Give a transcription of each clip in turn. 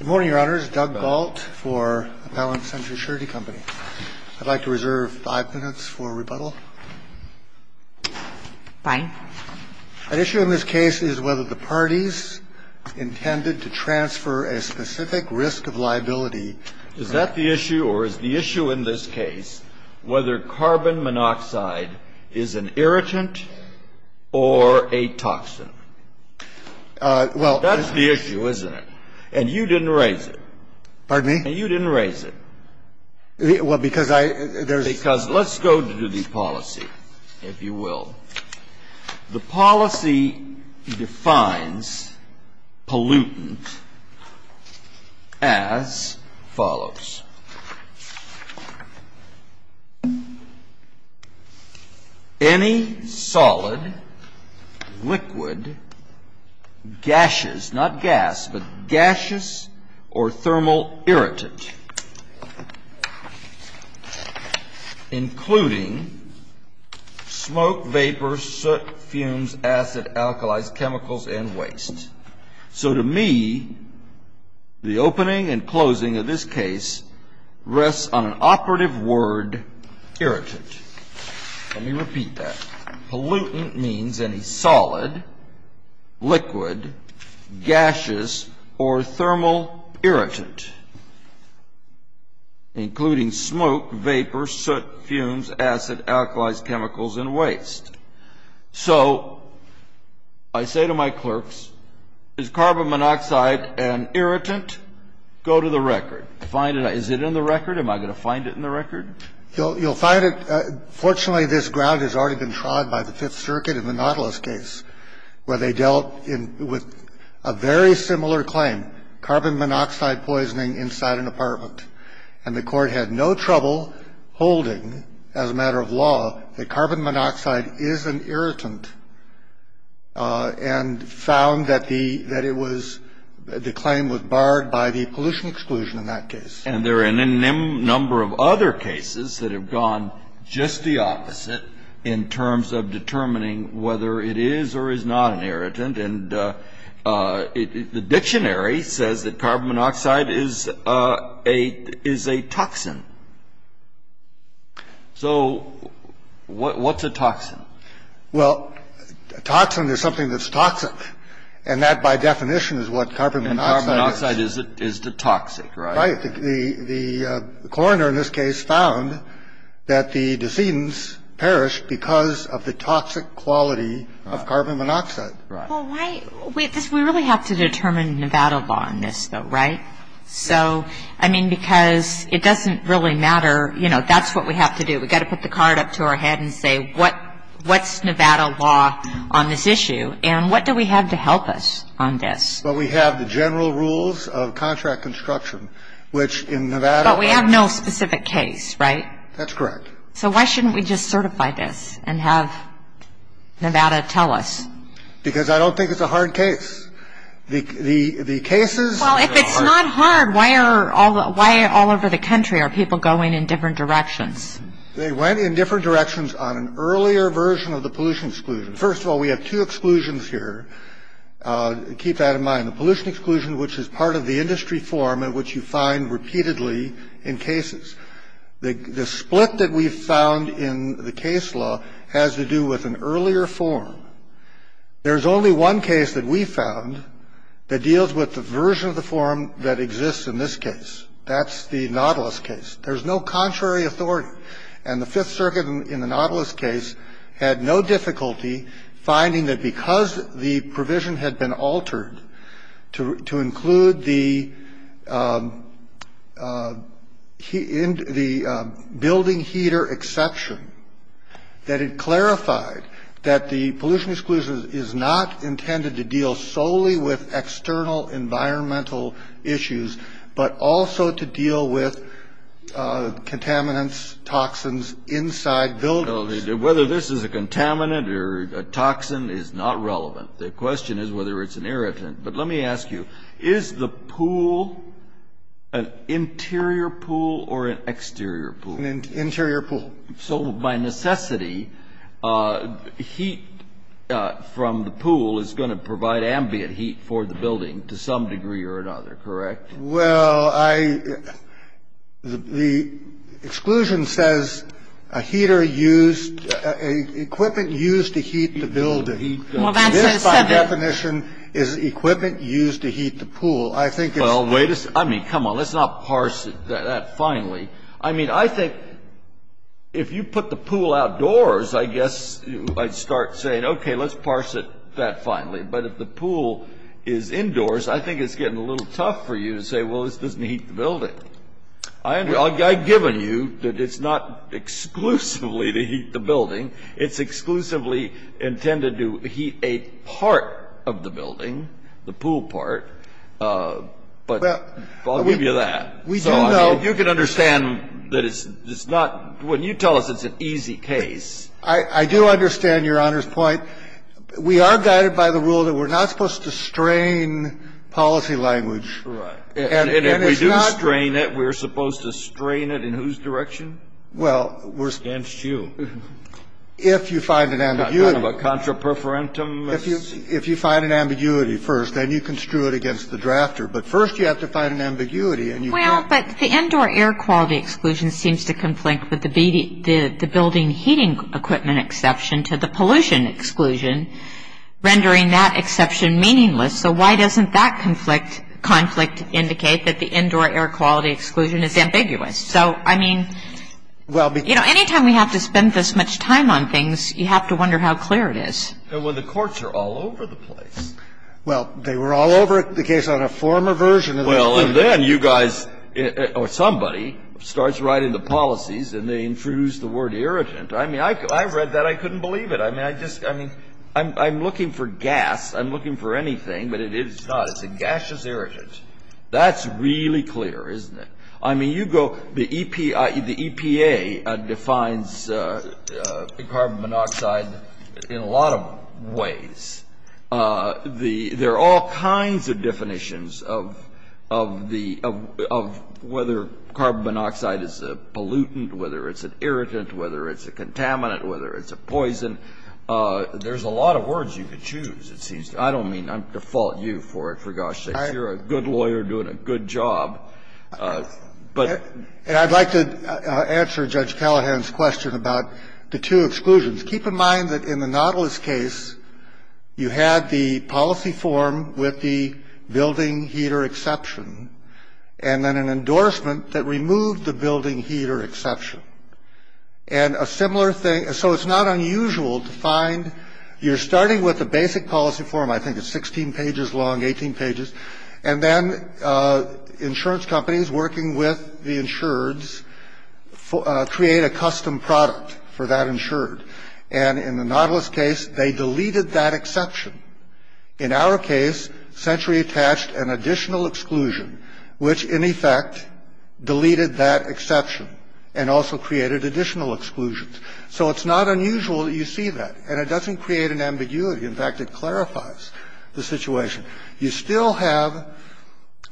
Good morning, Your Honors. Doug Gault for Appellant Center Surety Company. I'd like to reserve five minutes for rebuttal. Fine. An issue in this case is whether the parties intended to transfer a specific risk of liability. Is that the issue, or is the issue in this case whether carbon monoxide is an irritant or a toxin? Well, that's the issue, isn't it? And you didn't raise it. Pardon me? You didn't raise it. Well, because I, there's Because let's go to the policy, if you will. The policy defines pollutant as follows. Any solid, liquid, gaseous, not gas, but gaseous or thermal irritant, including smoke, vapor, soot, fumes, acid, alkalized chemicals, and waste. So to me, the opening and closing of this case rests on an operative word, irritant. Let me repeat that. Pollutant means any solid, liquid, gaseous, or thermal irritant, including smoke, vapor, soot, fumes, acid, alkalized chemicals, and waste. So I say to my clerks, is carbon monoxide an irritant? Go to the record. Find it. Is it in the record? Am I going to find it in the record? You'll find it. Fortunately, this ground has already been trod by the Fifth Circuit in the Nautilus case, where they dealt with a very similar claim, carbon monoxide poisoning inside an apartment. And the Court had no trouble holding, as a matter of law, that carbon monoxide is an irritant and found that the claim was barred by the pollution exclusion in that case. And there are a number of other cases that have gone just the opposite in terms of determining whether it is or is not an irritant. And the dictionary says that carbon monoxide is a toxin. So what's a toxin? Well, a toxin is something that's toxic. And that, by definition, is what carbon monoxide is. And carbon monoxide is the toxic, right? Right. The coroner in this case found that the decedents perished because of the toxic quality of carbon monoxide. Right. Well, why? We really have to determine Nevada law in this, though, right? So, I mean, because it doesn't really matter. You know, that's what we have to do. We've got to put the card up to our head and say, what's Nevada law on this issue? And what do we have to help us on this? Well, we have the general rules of contract construction, which in Nevada law ---- But we have no specific case, right? That's correct. So why shouldn't we just certify this and have Nevada tell us? Because I don't think it's a hard case. The cases ---- Well, if it's not hard, why all over the country are people going in different directions? They went in different directions on an earlier version of the pollution exclusion. First of all, we have two exclusions here. Keep that in mind. The pollution exclusion, which is part of the industry form and which you find repeatedly in cases. The split that we found in the case law has to do with an earlier form. There's only one case that we found that deals with the version of the form that exists in this case. That's the Nautilus case. There's no contrary authority. And the Fifth Circuit in the Nautilus case had no difficulty finding that because the provision had been altered to include the building heater exception, that it clarified that the pollution exclusion is not intended to deal solely with external environmental issues, but also to deal with contaminants, toxins inside buildings. So whether this is a contaminant or a toxin is not relevant. The question is whether it's an irritant. But let me ask you, is the pool an interior pool or an exterior pool? An interior pool. So by necessity, heat from the pool is going to provide ambient heat for the building to some degree or another, correct? Well, I, the exclusion says a heater used, equipment used to heat the building. Well, that says seven. By definition, is equipment used to heat the pool. I think it's. Well, wait a second. I mean, come on, let's not parse that finely. I mean, I think if you put the pool outdoors, I guess I'd start saying, okay, let's parse it that finely. But if the pool is indoors, I think it's getting a little tough for you to say, well, this doesn't heat the building. I've given you that it's not exclusively to heat the building. It's exclusively intended to heat a part of the building, the pool part. But I'll give you that. We do know. You can understand that it's not, when you tell us it's an easy case. I do understand Your Honor's point. We are guided by the rule that we're not supposed to strain policy language. Right. And if we do strain it, we're supposed to strain it in whose direction? Well. Against you. If you find an ambiguity. Kind of a contra preferentum. If you find an ambiguity first, then you can screw it against the drafter. But first you have to find an ambiguity. Well, but the indoor air quality exclusion seems to conflict with the building heating equipment exception to the pollution exclusion, rendering that exception meaningless. So why doesn't that conflict indicate that the indoor air quality exclusion is ambiguous? So, I mean, you know, any time we have to spend this much time on things, you have to wonder how clear it is. Well, the courts are all over the place. Well, they were all over the case on a former version of the building. Well, and then you guys or somebody starts writing the policies and they introduce the word irritant. I mean, I read that. I couldn't believe it. I mean, I just, I mean, I'm looking for gas. I'm looking for anything. But it is not. It's a gaseous irritant. That's really clear, isn't it? I mean, you go, the EPA defines carbon monoxide in a lot of ways. There are all kinds of definitions of the, of whether carbon monoxide is a pollutant, whether it's an irritant, whether it's a contaminant, whether it's a poison. There's a lot of words you could choose, it seems to me. I don't mean to fault you for it, for gosh sakes. You're a good lawyer doing a good job, but. And I'd like to answer Judge Callahan's question about the two exclusions. Keep in mind that in the Nautilus case, you had the policy form with the building heater exception and then an endorsement that removed the building heater exception. And a similar thing. So it's not unusual to find you're starting with the basic policy form. I think it's 16 pages long, 18 pages. And then insurance companies working with the insureds create a custom product for that insured. And in the Nautilus case, they deleted that exception. In our case, Century attached an additional exclusion, which in effect deleted that exception and also created additional exclusions. So it's not unusual that you see that. And it doesn't create an ambiguity. In fact, it clarifies the situation. You still have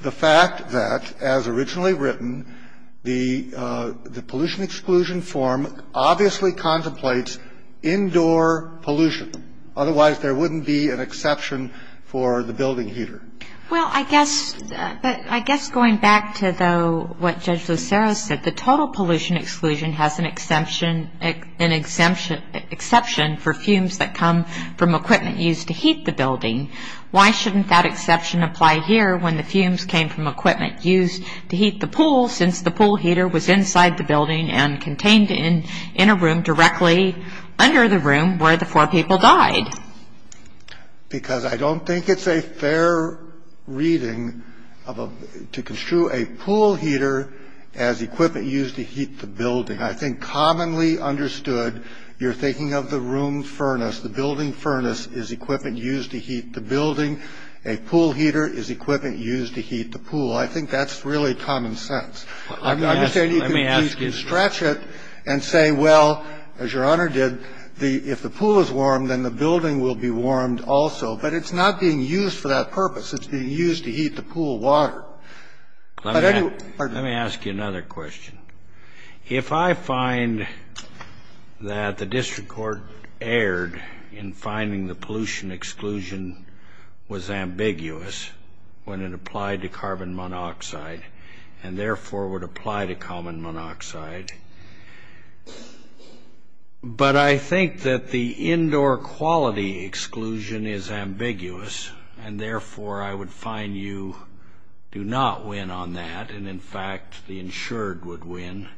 the fact that, as originally written, the pollution exclusion form obviously contemplates indoor pollution. Otherwise, there wouldn't be an exception for the building heater. Well, I guess going back to what Judge Lucero said, the total pollution exclusion has an exception for fumes that come from equipment used to heat the building. Why shouldn't that exception apply here when the fumes came from equipment used to heat the pool, since the pool heater was inside the building and contained in a room directly under the room where the four people died? Because I don't think it's a fair reading to construe a pool heater as equipment used to heat the building. I think commonly understood, you're thinking of the room furnace. The building furnace is equipment used to heat the building. A pool heater is equipment used to heat the pool. I think that's really common sense. I'm not saying you can stretch it and say, well, as Your Honor did, if the pool is warm, then the building will be warmed also. But it's not being used for that purpose. It's being used to heat the pool water. But anyway, pardon me. Let me ask you another question. If I find that the district court erred in finding the pollution exclusion was ambiguous when it applied to carbon monoxide, and therefore would apply to carbon monoxide, but I think that the indoor quality exclusion is ambiguous, and therefore I would find you do not win on that, and in fact the insured would win,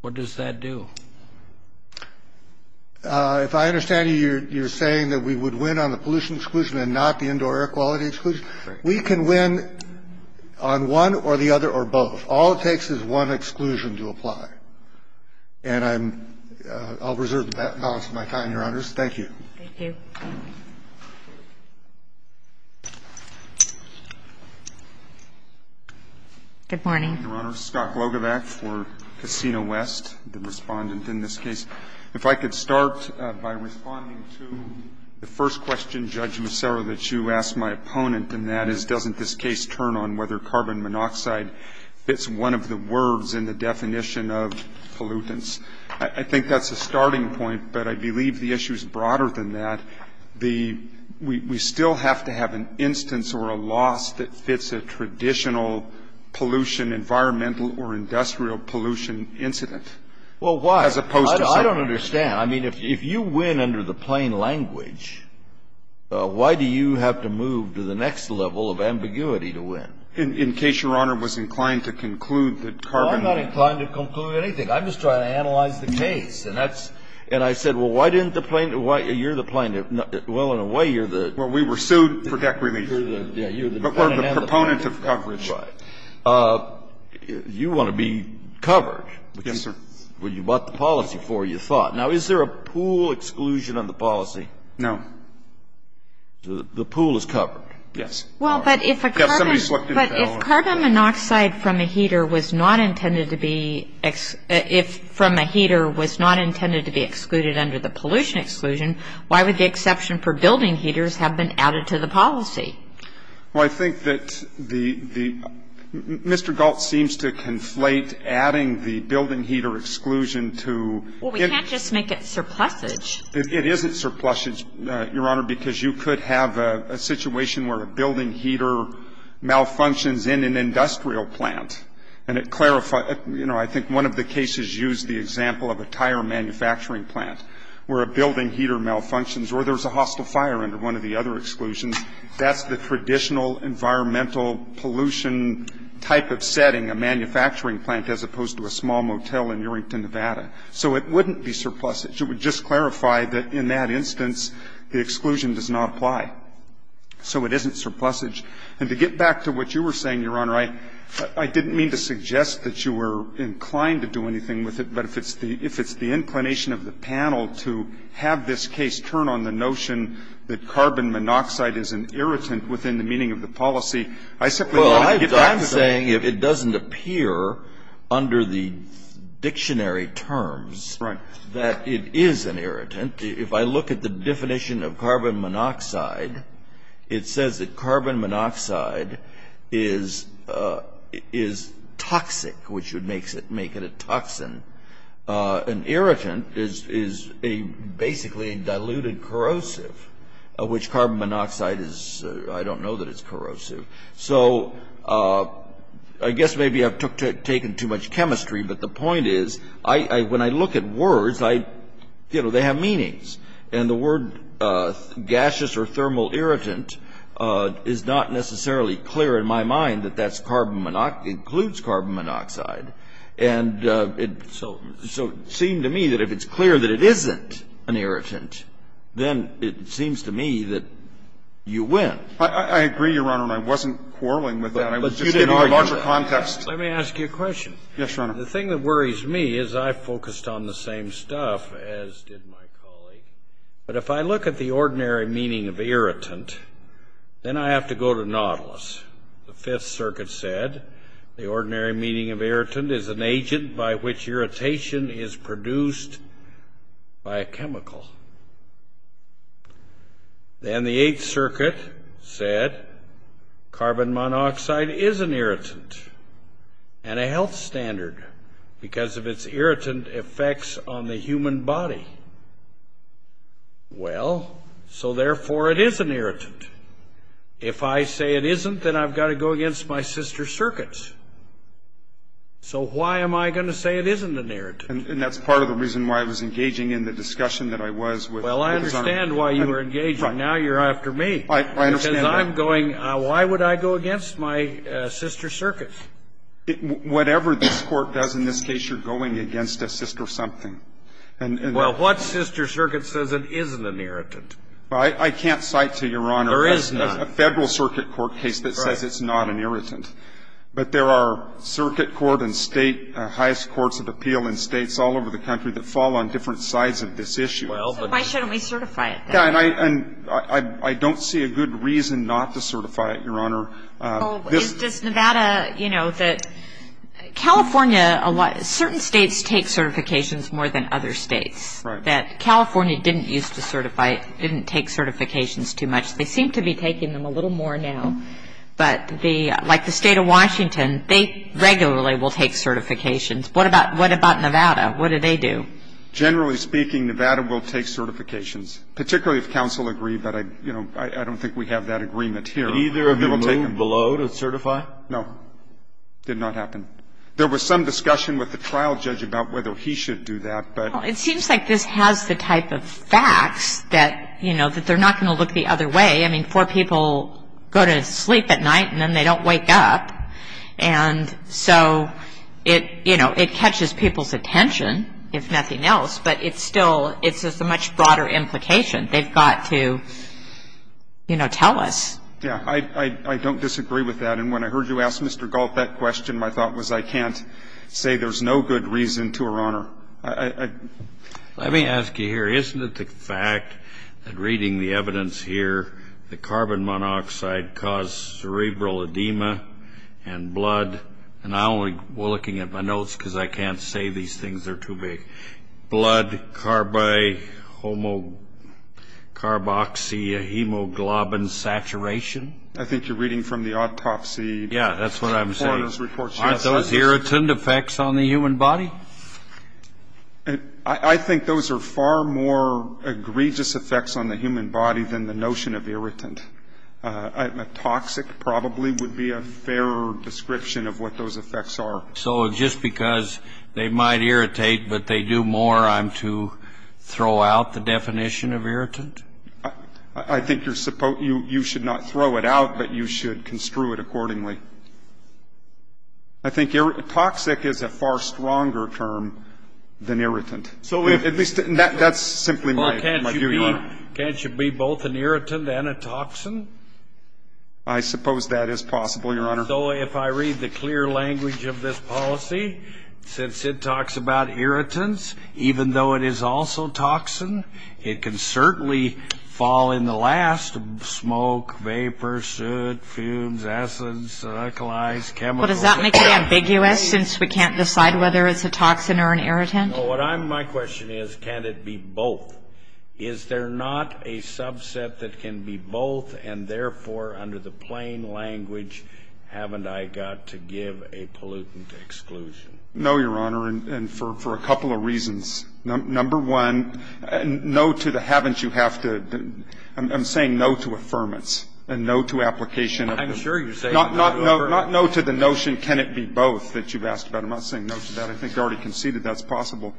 what does that do? If I understand you, you're saying that we would win on the pollution exclusion and not the indoor air quality exclusion? We can win on one or the other or both. All it takes is one exclusion to apply. And I'll reserve the balance of my time, Your Honors. Thank you. Thank you. Good morning. Your Honor, Scott Glogovac for Casino West, the Respondent in this case. If I could start by responding to the first question, Judge Macero, that you asked my opponent, and that is doesn't this case turn on whether carbon monoxide fits one of the words in the definition of pollutants? I think that's a starting point, but I believe the issue is broader than that. We still have to have an instance or a loss that fits a traditional pollution, environmental or industrial pollution incident. Well, why? I don't understand. I mean, if you win under the plain language, why do you have to move to the next level of ambiguity to win? In case Your Honor was inclined to conclude that carbon monoxide. I'm not inclined to conclude anything. I'm just trying to analyze the case. And I said, well, you're the plaintiff. Well, in a way, you're the. Well, we were sued for deck remission. But we're the proponent of coverage. Right. You want to be covered. Yes, sir. Well, you bought the policy for it, you thought. Now, is there a pool exclusion on the policy? No. The pool is covered. Yes. Well, but if a carbon monoxide from a heater was not intended to be, if from a heater was not intended to be excluded under the pollution exclusion, why would the exception for building heaters have been added to the policy? Well, I think that the, Mr. Galt seems to conflate adding the building heater exclusion to. Well, we can't just make it surplusage. It isn't surplusage, Your Honor, because you could have a situation where a building heater malfunctions in an industrial plant. And it clarifies, you know, I think one of the cases used the example of a tire manufacturing plant where a building heater malfunctions or there's a hostile fire under one of the other exclusions. That's the traditional environmental pollution type of setting, a manufacturing plant as opposed to a small motel in Urington, Nevada. So it wouldn't be surplusage. It would just clarify that in that instance the exclusion does not apply. So it isn't surplusage. And to get back to what you were saying, Your Honor, I didn't mean to suggest that you were inclined to do anything with it, but if it's the inclination of the panel to have this case turn on the notion that carbon monoxide is an irritant within the meaning of the policy, I simply wanted to get back to that. Well, I'm saying if it doesn't appear under the dictionary terms. Right. That it is an irritant. If I look at the definition of carbon monoxide, it says that carbon monoxide is toxic, which would make it a toxin. An irritant is basically a diluted corrosive, which carbon monoxide is, I don't know that it's corrosive. So I guess maybe I've taken too much chemistry, but the point is when I look at words, I, you know, they have meanings. And the word gaseous or thermal irritant is not necessarily clear in my mind that that's carbon monoxide, includes carbon monoxide. And so it seemed to me that if it's clear that it isn't an irritant, then it seems to me that you win. I agree, Your Honor, and I wasn't quarreling with that. I was just giving a larger context. Let me ask you a question. The thing that worries me is I focused on the same stuff as did my colleague. But if I look at the ordinary meaning of irritant, then I have to go to Nautilus. The Fifth Circuit said the ordinary meaning of irritant is an agent by which irritation is produced by a chemical. Then the Eighth Circuit said carbon monoxide is an irritant and a health standard because of its irritant effects on the human body. Well, so therefore it is an irritant. If I say it isn't, then I've got to go against my sister's circuits. So why am I going to say it isn't an irritant? And that's part of the reason why I was engaging in the discussion that I was with Ms. Arnn. Well, I understand why you were engaging. Now you're after me. I understand that. Because I'm going, why would I go against my sister's circuits? Whatever this Court does in this case, you're going against a sister something. Well, what sister circuit says it isn't an irritant? I can't cite to Your Honor a Federal Circuit court case that says it's not an irritant. But there are circuit court and state highest courts of appeal in states all over the country that fall on different sides of this issue. So why shouldn't we certify it? And I don't see a good reason not to certify it, Your Honor. Does Nevada, you know, California, certain states take certifications more than other states. Right. That California didn't use to certify, didn't take certifications too much. They seem to be taking them a little more now. But the, like the State of Washington, they regularly will take certifications. What about, what about Nevada? What do they do? Generally speaking, Nevada will take certifications. Particularly if counsel agree, but I, you know, I don't think we have that agreement here. Did either of you move below to certify? No. Did not happen. There was some discussion with the trial judge about whether he should do that, but. Well, it seems like this has the type of facts that, you know, that they're not going to look the other way. I mean, four people go to sleep at night and then they don't wake up. And so it, you know, it catches people's attention, if nothing else. But it's still, it's a much broader implication. They've got to, you know, tell us. Yeah. I don't disagree with that. And when I heard you ask Mr. Galt that question, my thought was I can't say there's no good reason to, Your Honor. Let me ask you here. Isn't it the fact that reading the evidence here, the carbon monoxide caused cerebral edema and blood. And I'm only looking at my notes because I can't say these things. They're too big. Blood, carbohomo, carboxyhemoglobin saturation. I think you're reading from the autopsy. Yeah, that's what I'm saying. Aren't those irritant effects on the human body? I think those are far more egregious effects on the human body than the notion of irritant. A toxic probably would be a fairer description of what those effects are. So just because they might irritate but they do more, I'm to throw out the definition of irritant? I think you should not throw it out, but you should construe it accordingly. I think toxic is a far stronger term than irritant. At least that's simply my view, Your Honor. Well, can't you be both an irritant and a toxin? I suppose that is possible, Your Honor. So if I read the clear language of this policy, since it talks about irritants, even though it is also toxin, it can certainly fall in the last, smoke, vapor, soot, fumes, acids, glycolides, chemicals. Well, does that make it ambiguous since we can't decide whether it's a toxin or an irritant? No. My question is, can it be both? Is there not a subset that can be both and, therefore, under the plain language, haven't I got to give a pollutant exclusion? No, Your Honor, and for a couple of reasons. Number one, no to the haven't you have to. I'm saying no to affirmance and no to application. I'm sure you're saying no to affirmance. Not no to the notion can it be both that you've asked about. I'm not saying no to that. I think you already conceded that's possible.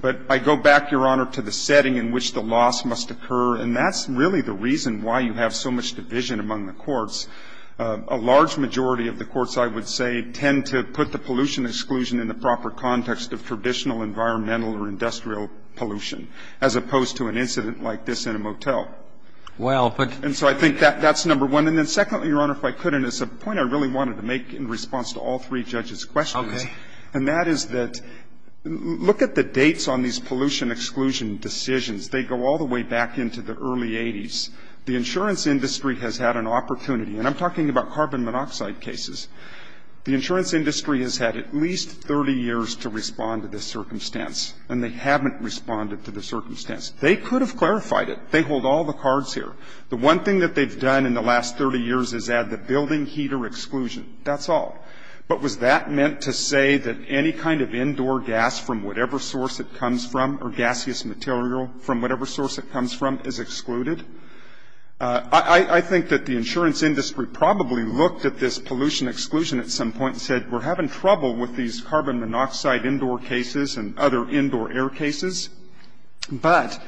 But I go back, Your Honor, to the setting in which the loss must occur, and that's really the reason why you have so much division among the courts. A large majority of the courts, I would say, tend to put the pollution exclusion in the proper context of traditional environmental or industrial pollution as opposed to an incident like this in a motel. Well, but. And so I think that's number one. And then secondly, Your Honor, if I could, and it's a point I really wanted to make in response to all three judges' questions. Okay. And that is that look at the dates on these pollution exclusion decisions. They go all the way back into the early 80s. The insurance industry has had an opportunity. And I'm talking about carbon monoxide cases. The insurance industry has had at least 30 years to respond to this circumstance, and they haven't responded to the circumstance. They could have clarified it. They hold all the cards here. The one thing that they've done in the last 30 years is add the building heater exclusion. That's all. But was that meant to say that any kind of indoor gas from whatever source it comes from or gaseous material from whatever source it comes from is excluded? I think that the insurance industry probably looked at this pollution exclusion at some point and said, we're having trouble with these carbon monoxide indoor cases and other indoor air cases. But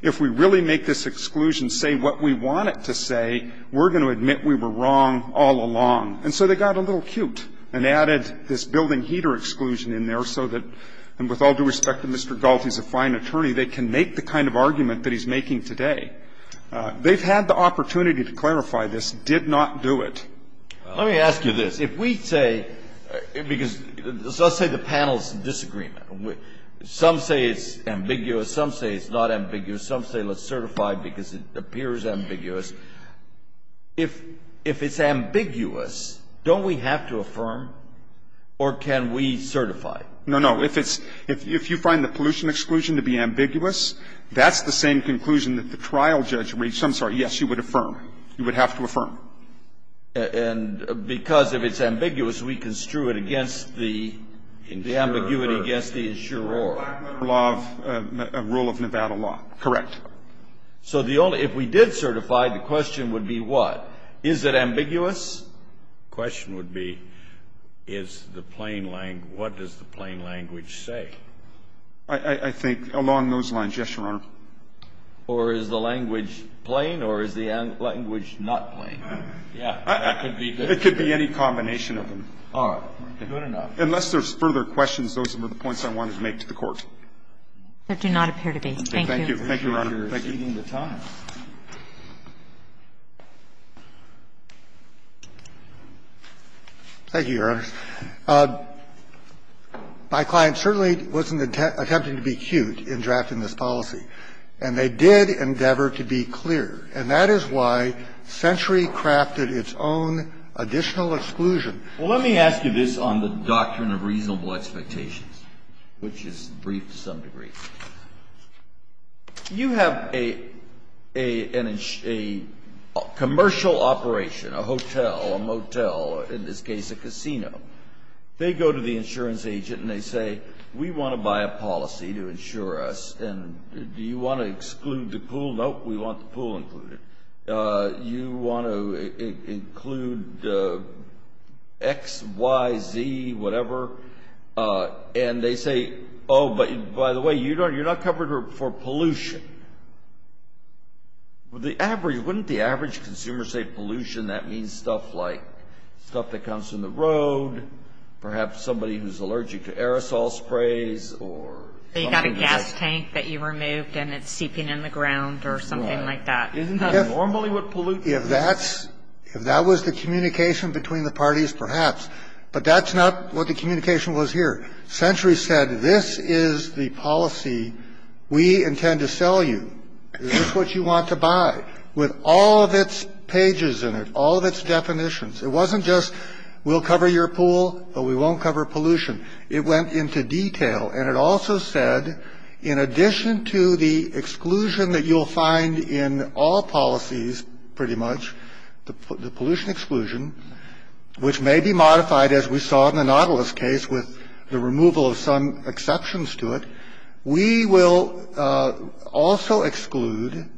if we really make this exclusion say what we want it to say, we're going to admit we were wrong all along. And so they got a little cute and added this building heater exclusion in there so that, and with all due respect to Mr. Galt, he's a fine attorney, they can make the kind of argument that he's making today. They've had the opportunity to clarify this, did not do it. Let me ask you this. If we say, because let's say the panel's in disagreement. Some say it's ambiguous. Some say it's not ambiguous. Some say let's certify because it appears ambiguous. If it's ambiguous, don't we have to affirm or can we certify? No, no. If it's, if you find the pollution exclusion to be ambiguous, that's the same conclusion that the trial judge reached. I'm sorry. Yes, you would affirm. You would have to affirm. And because if it's ambiguous, we construe it against the ambiguity against the insurer. A rule of Nevada law. Correct. So the only, if we did certify, the question would be what? Is it ambiguous? The question would be is the plain language, what does the plain language say? I think along those lines, yes, Your Honor. Or is the language plain or is the language not plain? Yeah, that could be. It could be any combination of them. All right. Good enough. Unless there's further questions, those are the points I wanted to make to the Court. There do not appear to be. Thank you. Thank you, Your Honor. Thank you. Thank you, Your Honor. My client certainly wasn't attempting to be cute in drafting this policy. And they did endeavor to be clear. And that is why Century crafted its own additional exclusion. Well, let me ask you this on the doctrine of reasonable expectations, which is brief to some degree. You have a commercial operation, a hotel, a motel, in this case a casino. They go to the insurance agent and they say, we want to buy a policy to insure us. And do you want to exclude the pool? Nope, we want the pool included. You want to include X, Y, Z, whatever. And they say, oh, by the way, you're not covered for pollution. Wouldn't the average consumer say pollution? That means stuff like stuff that comes from the road, perhaps somebody who's allergic to aerosol sprays or something like that. You've got a gas tank that you removed and it's seeping in the ground or something like that. Isn't that normally what pollution is? If that's the communication between the parties, perhaps. But that's not what the communication was here. Century said this is the policy we intend to sell you. This is what you want to buy with all of its pages in it, all of its definitions. It wasn't just we'll cover your pool, but we won't cover pollution. It went into detail. And it also said, in addition to the exclusion that you'll find in all policies, pretty much, the pollution exclusion, which may be modified, as we saw in the Nautilus case, with the removal of some exceptions to it, we will also exclude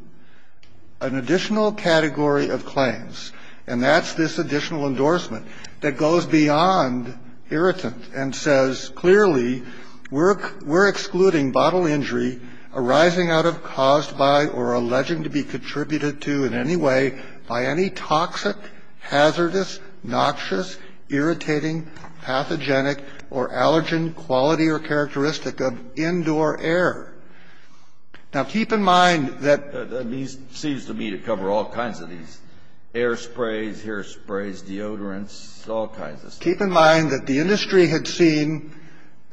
an additional category of claims. And that's this additional endorsement that goes beyond irritant and says, clearly, we're excluding bottle injury arising out of, caused by, or alleging to be contributed to in any way by any toxic, hazardous, noxious, irritating, pathogenic, or allergen quality or characteristic of indoor air. Now, keep in mind that these seem to me to cover all kinds of these, air sprays, hair sprays, deodorants, all kinds of stuff. Keep in mind that the industry had seen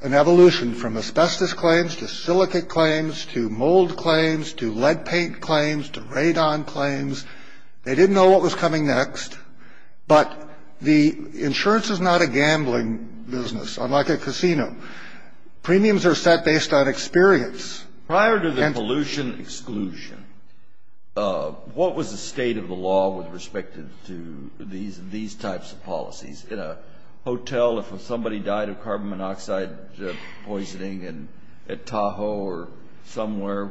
an evolution from asbestos claims to silicate claims to mold claims to lead paint claims to radon claims. They didn't know what was coming next. But the insurance is not a gambling business, unlike a casino. Premiums are set based on experience. And to the pollution exclusion, what was the state of the law with respect to these types of policies? In a hotel, if somebody died of carbon monoxide poisoning at Tahoe or somewhere,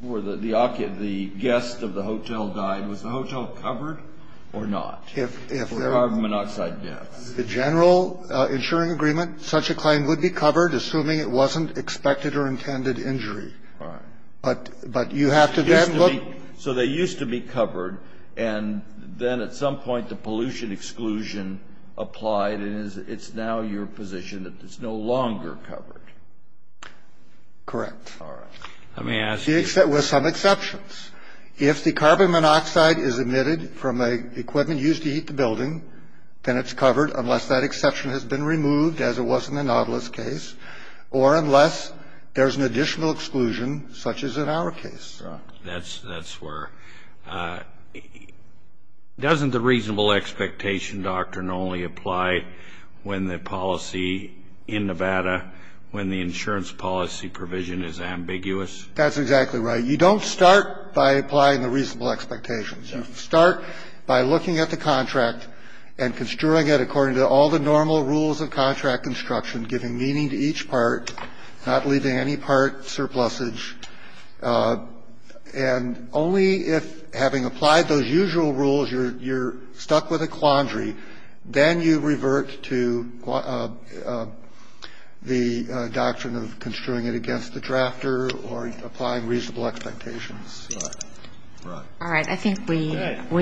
where the guest of the hotel died, was the hotel covered or not for carbon monoxide deaths? The general insuring agreement, such a claim would be covered assuming it wasn't expected or intended injury. But you have to then look... So they used to be covered and then at some point the pollution exclusion applied and it's now your position that it's no longer covered? Correct. All right. Let me ask you... With some exceptions. If the carbon monoxide is emitted from a equipment used to heat the building, then it's covered unless that exception has been removed as it was in the Nautilus case or unless there's an additional exclusion such as in our case. That's where... Doesn't the reasonable expectation doctrine only apply when the policy in Nevada, when the insurance policy provision is ambiguous? That's exactly right. You don't start by applying the reasonable expectations. You start by looking at the contract and construing it according to all the normal rules of contract instruction, giving meaning to each part, not leaving any part surplusage. And only if, having applied those usual rules, you're stuck with a quandary, then you revert to the doctrine of construing it against the drafter or applying reasonable expectations. Right. All right. I think we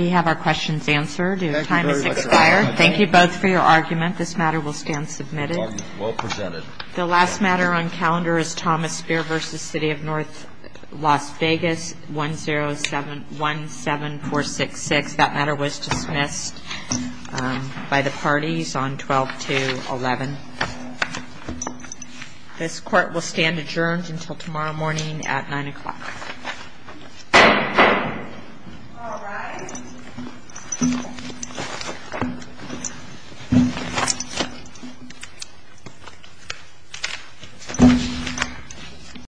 have our questions answered. Your time has expired. Thank you both for your argument. This matter will stand submitted. Well presented. The last matter on calendar is Thomas Speer v. City of North Las Vegas, 17466. That matter was dismissed by the parties on 12-11. This court will stand adjourned until tomorrow morning at 9 o'clock. All rise.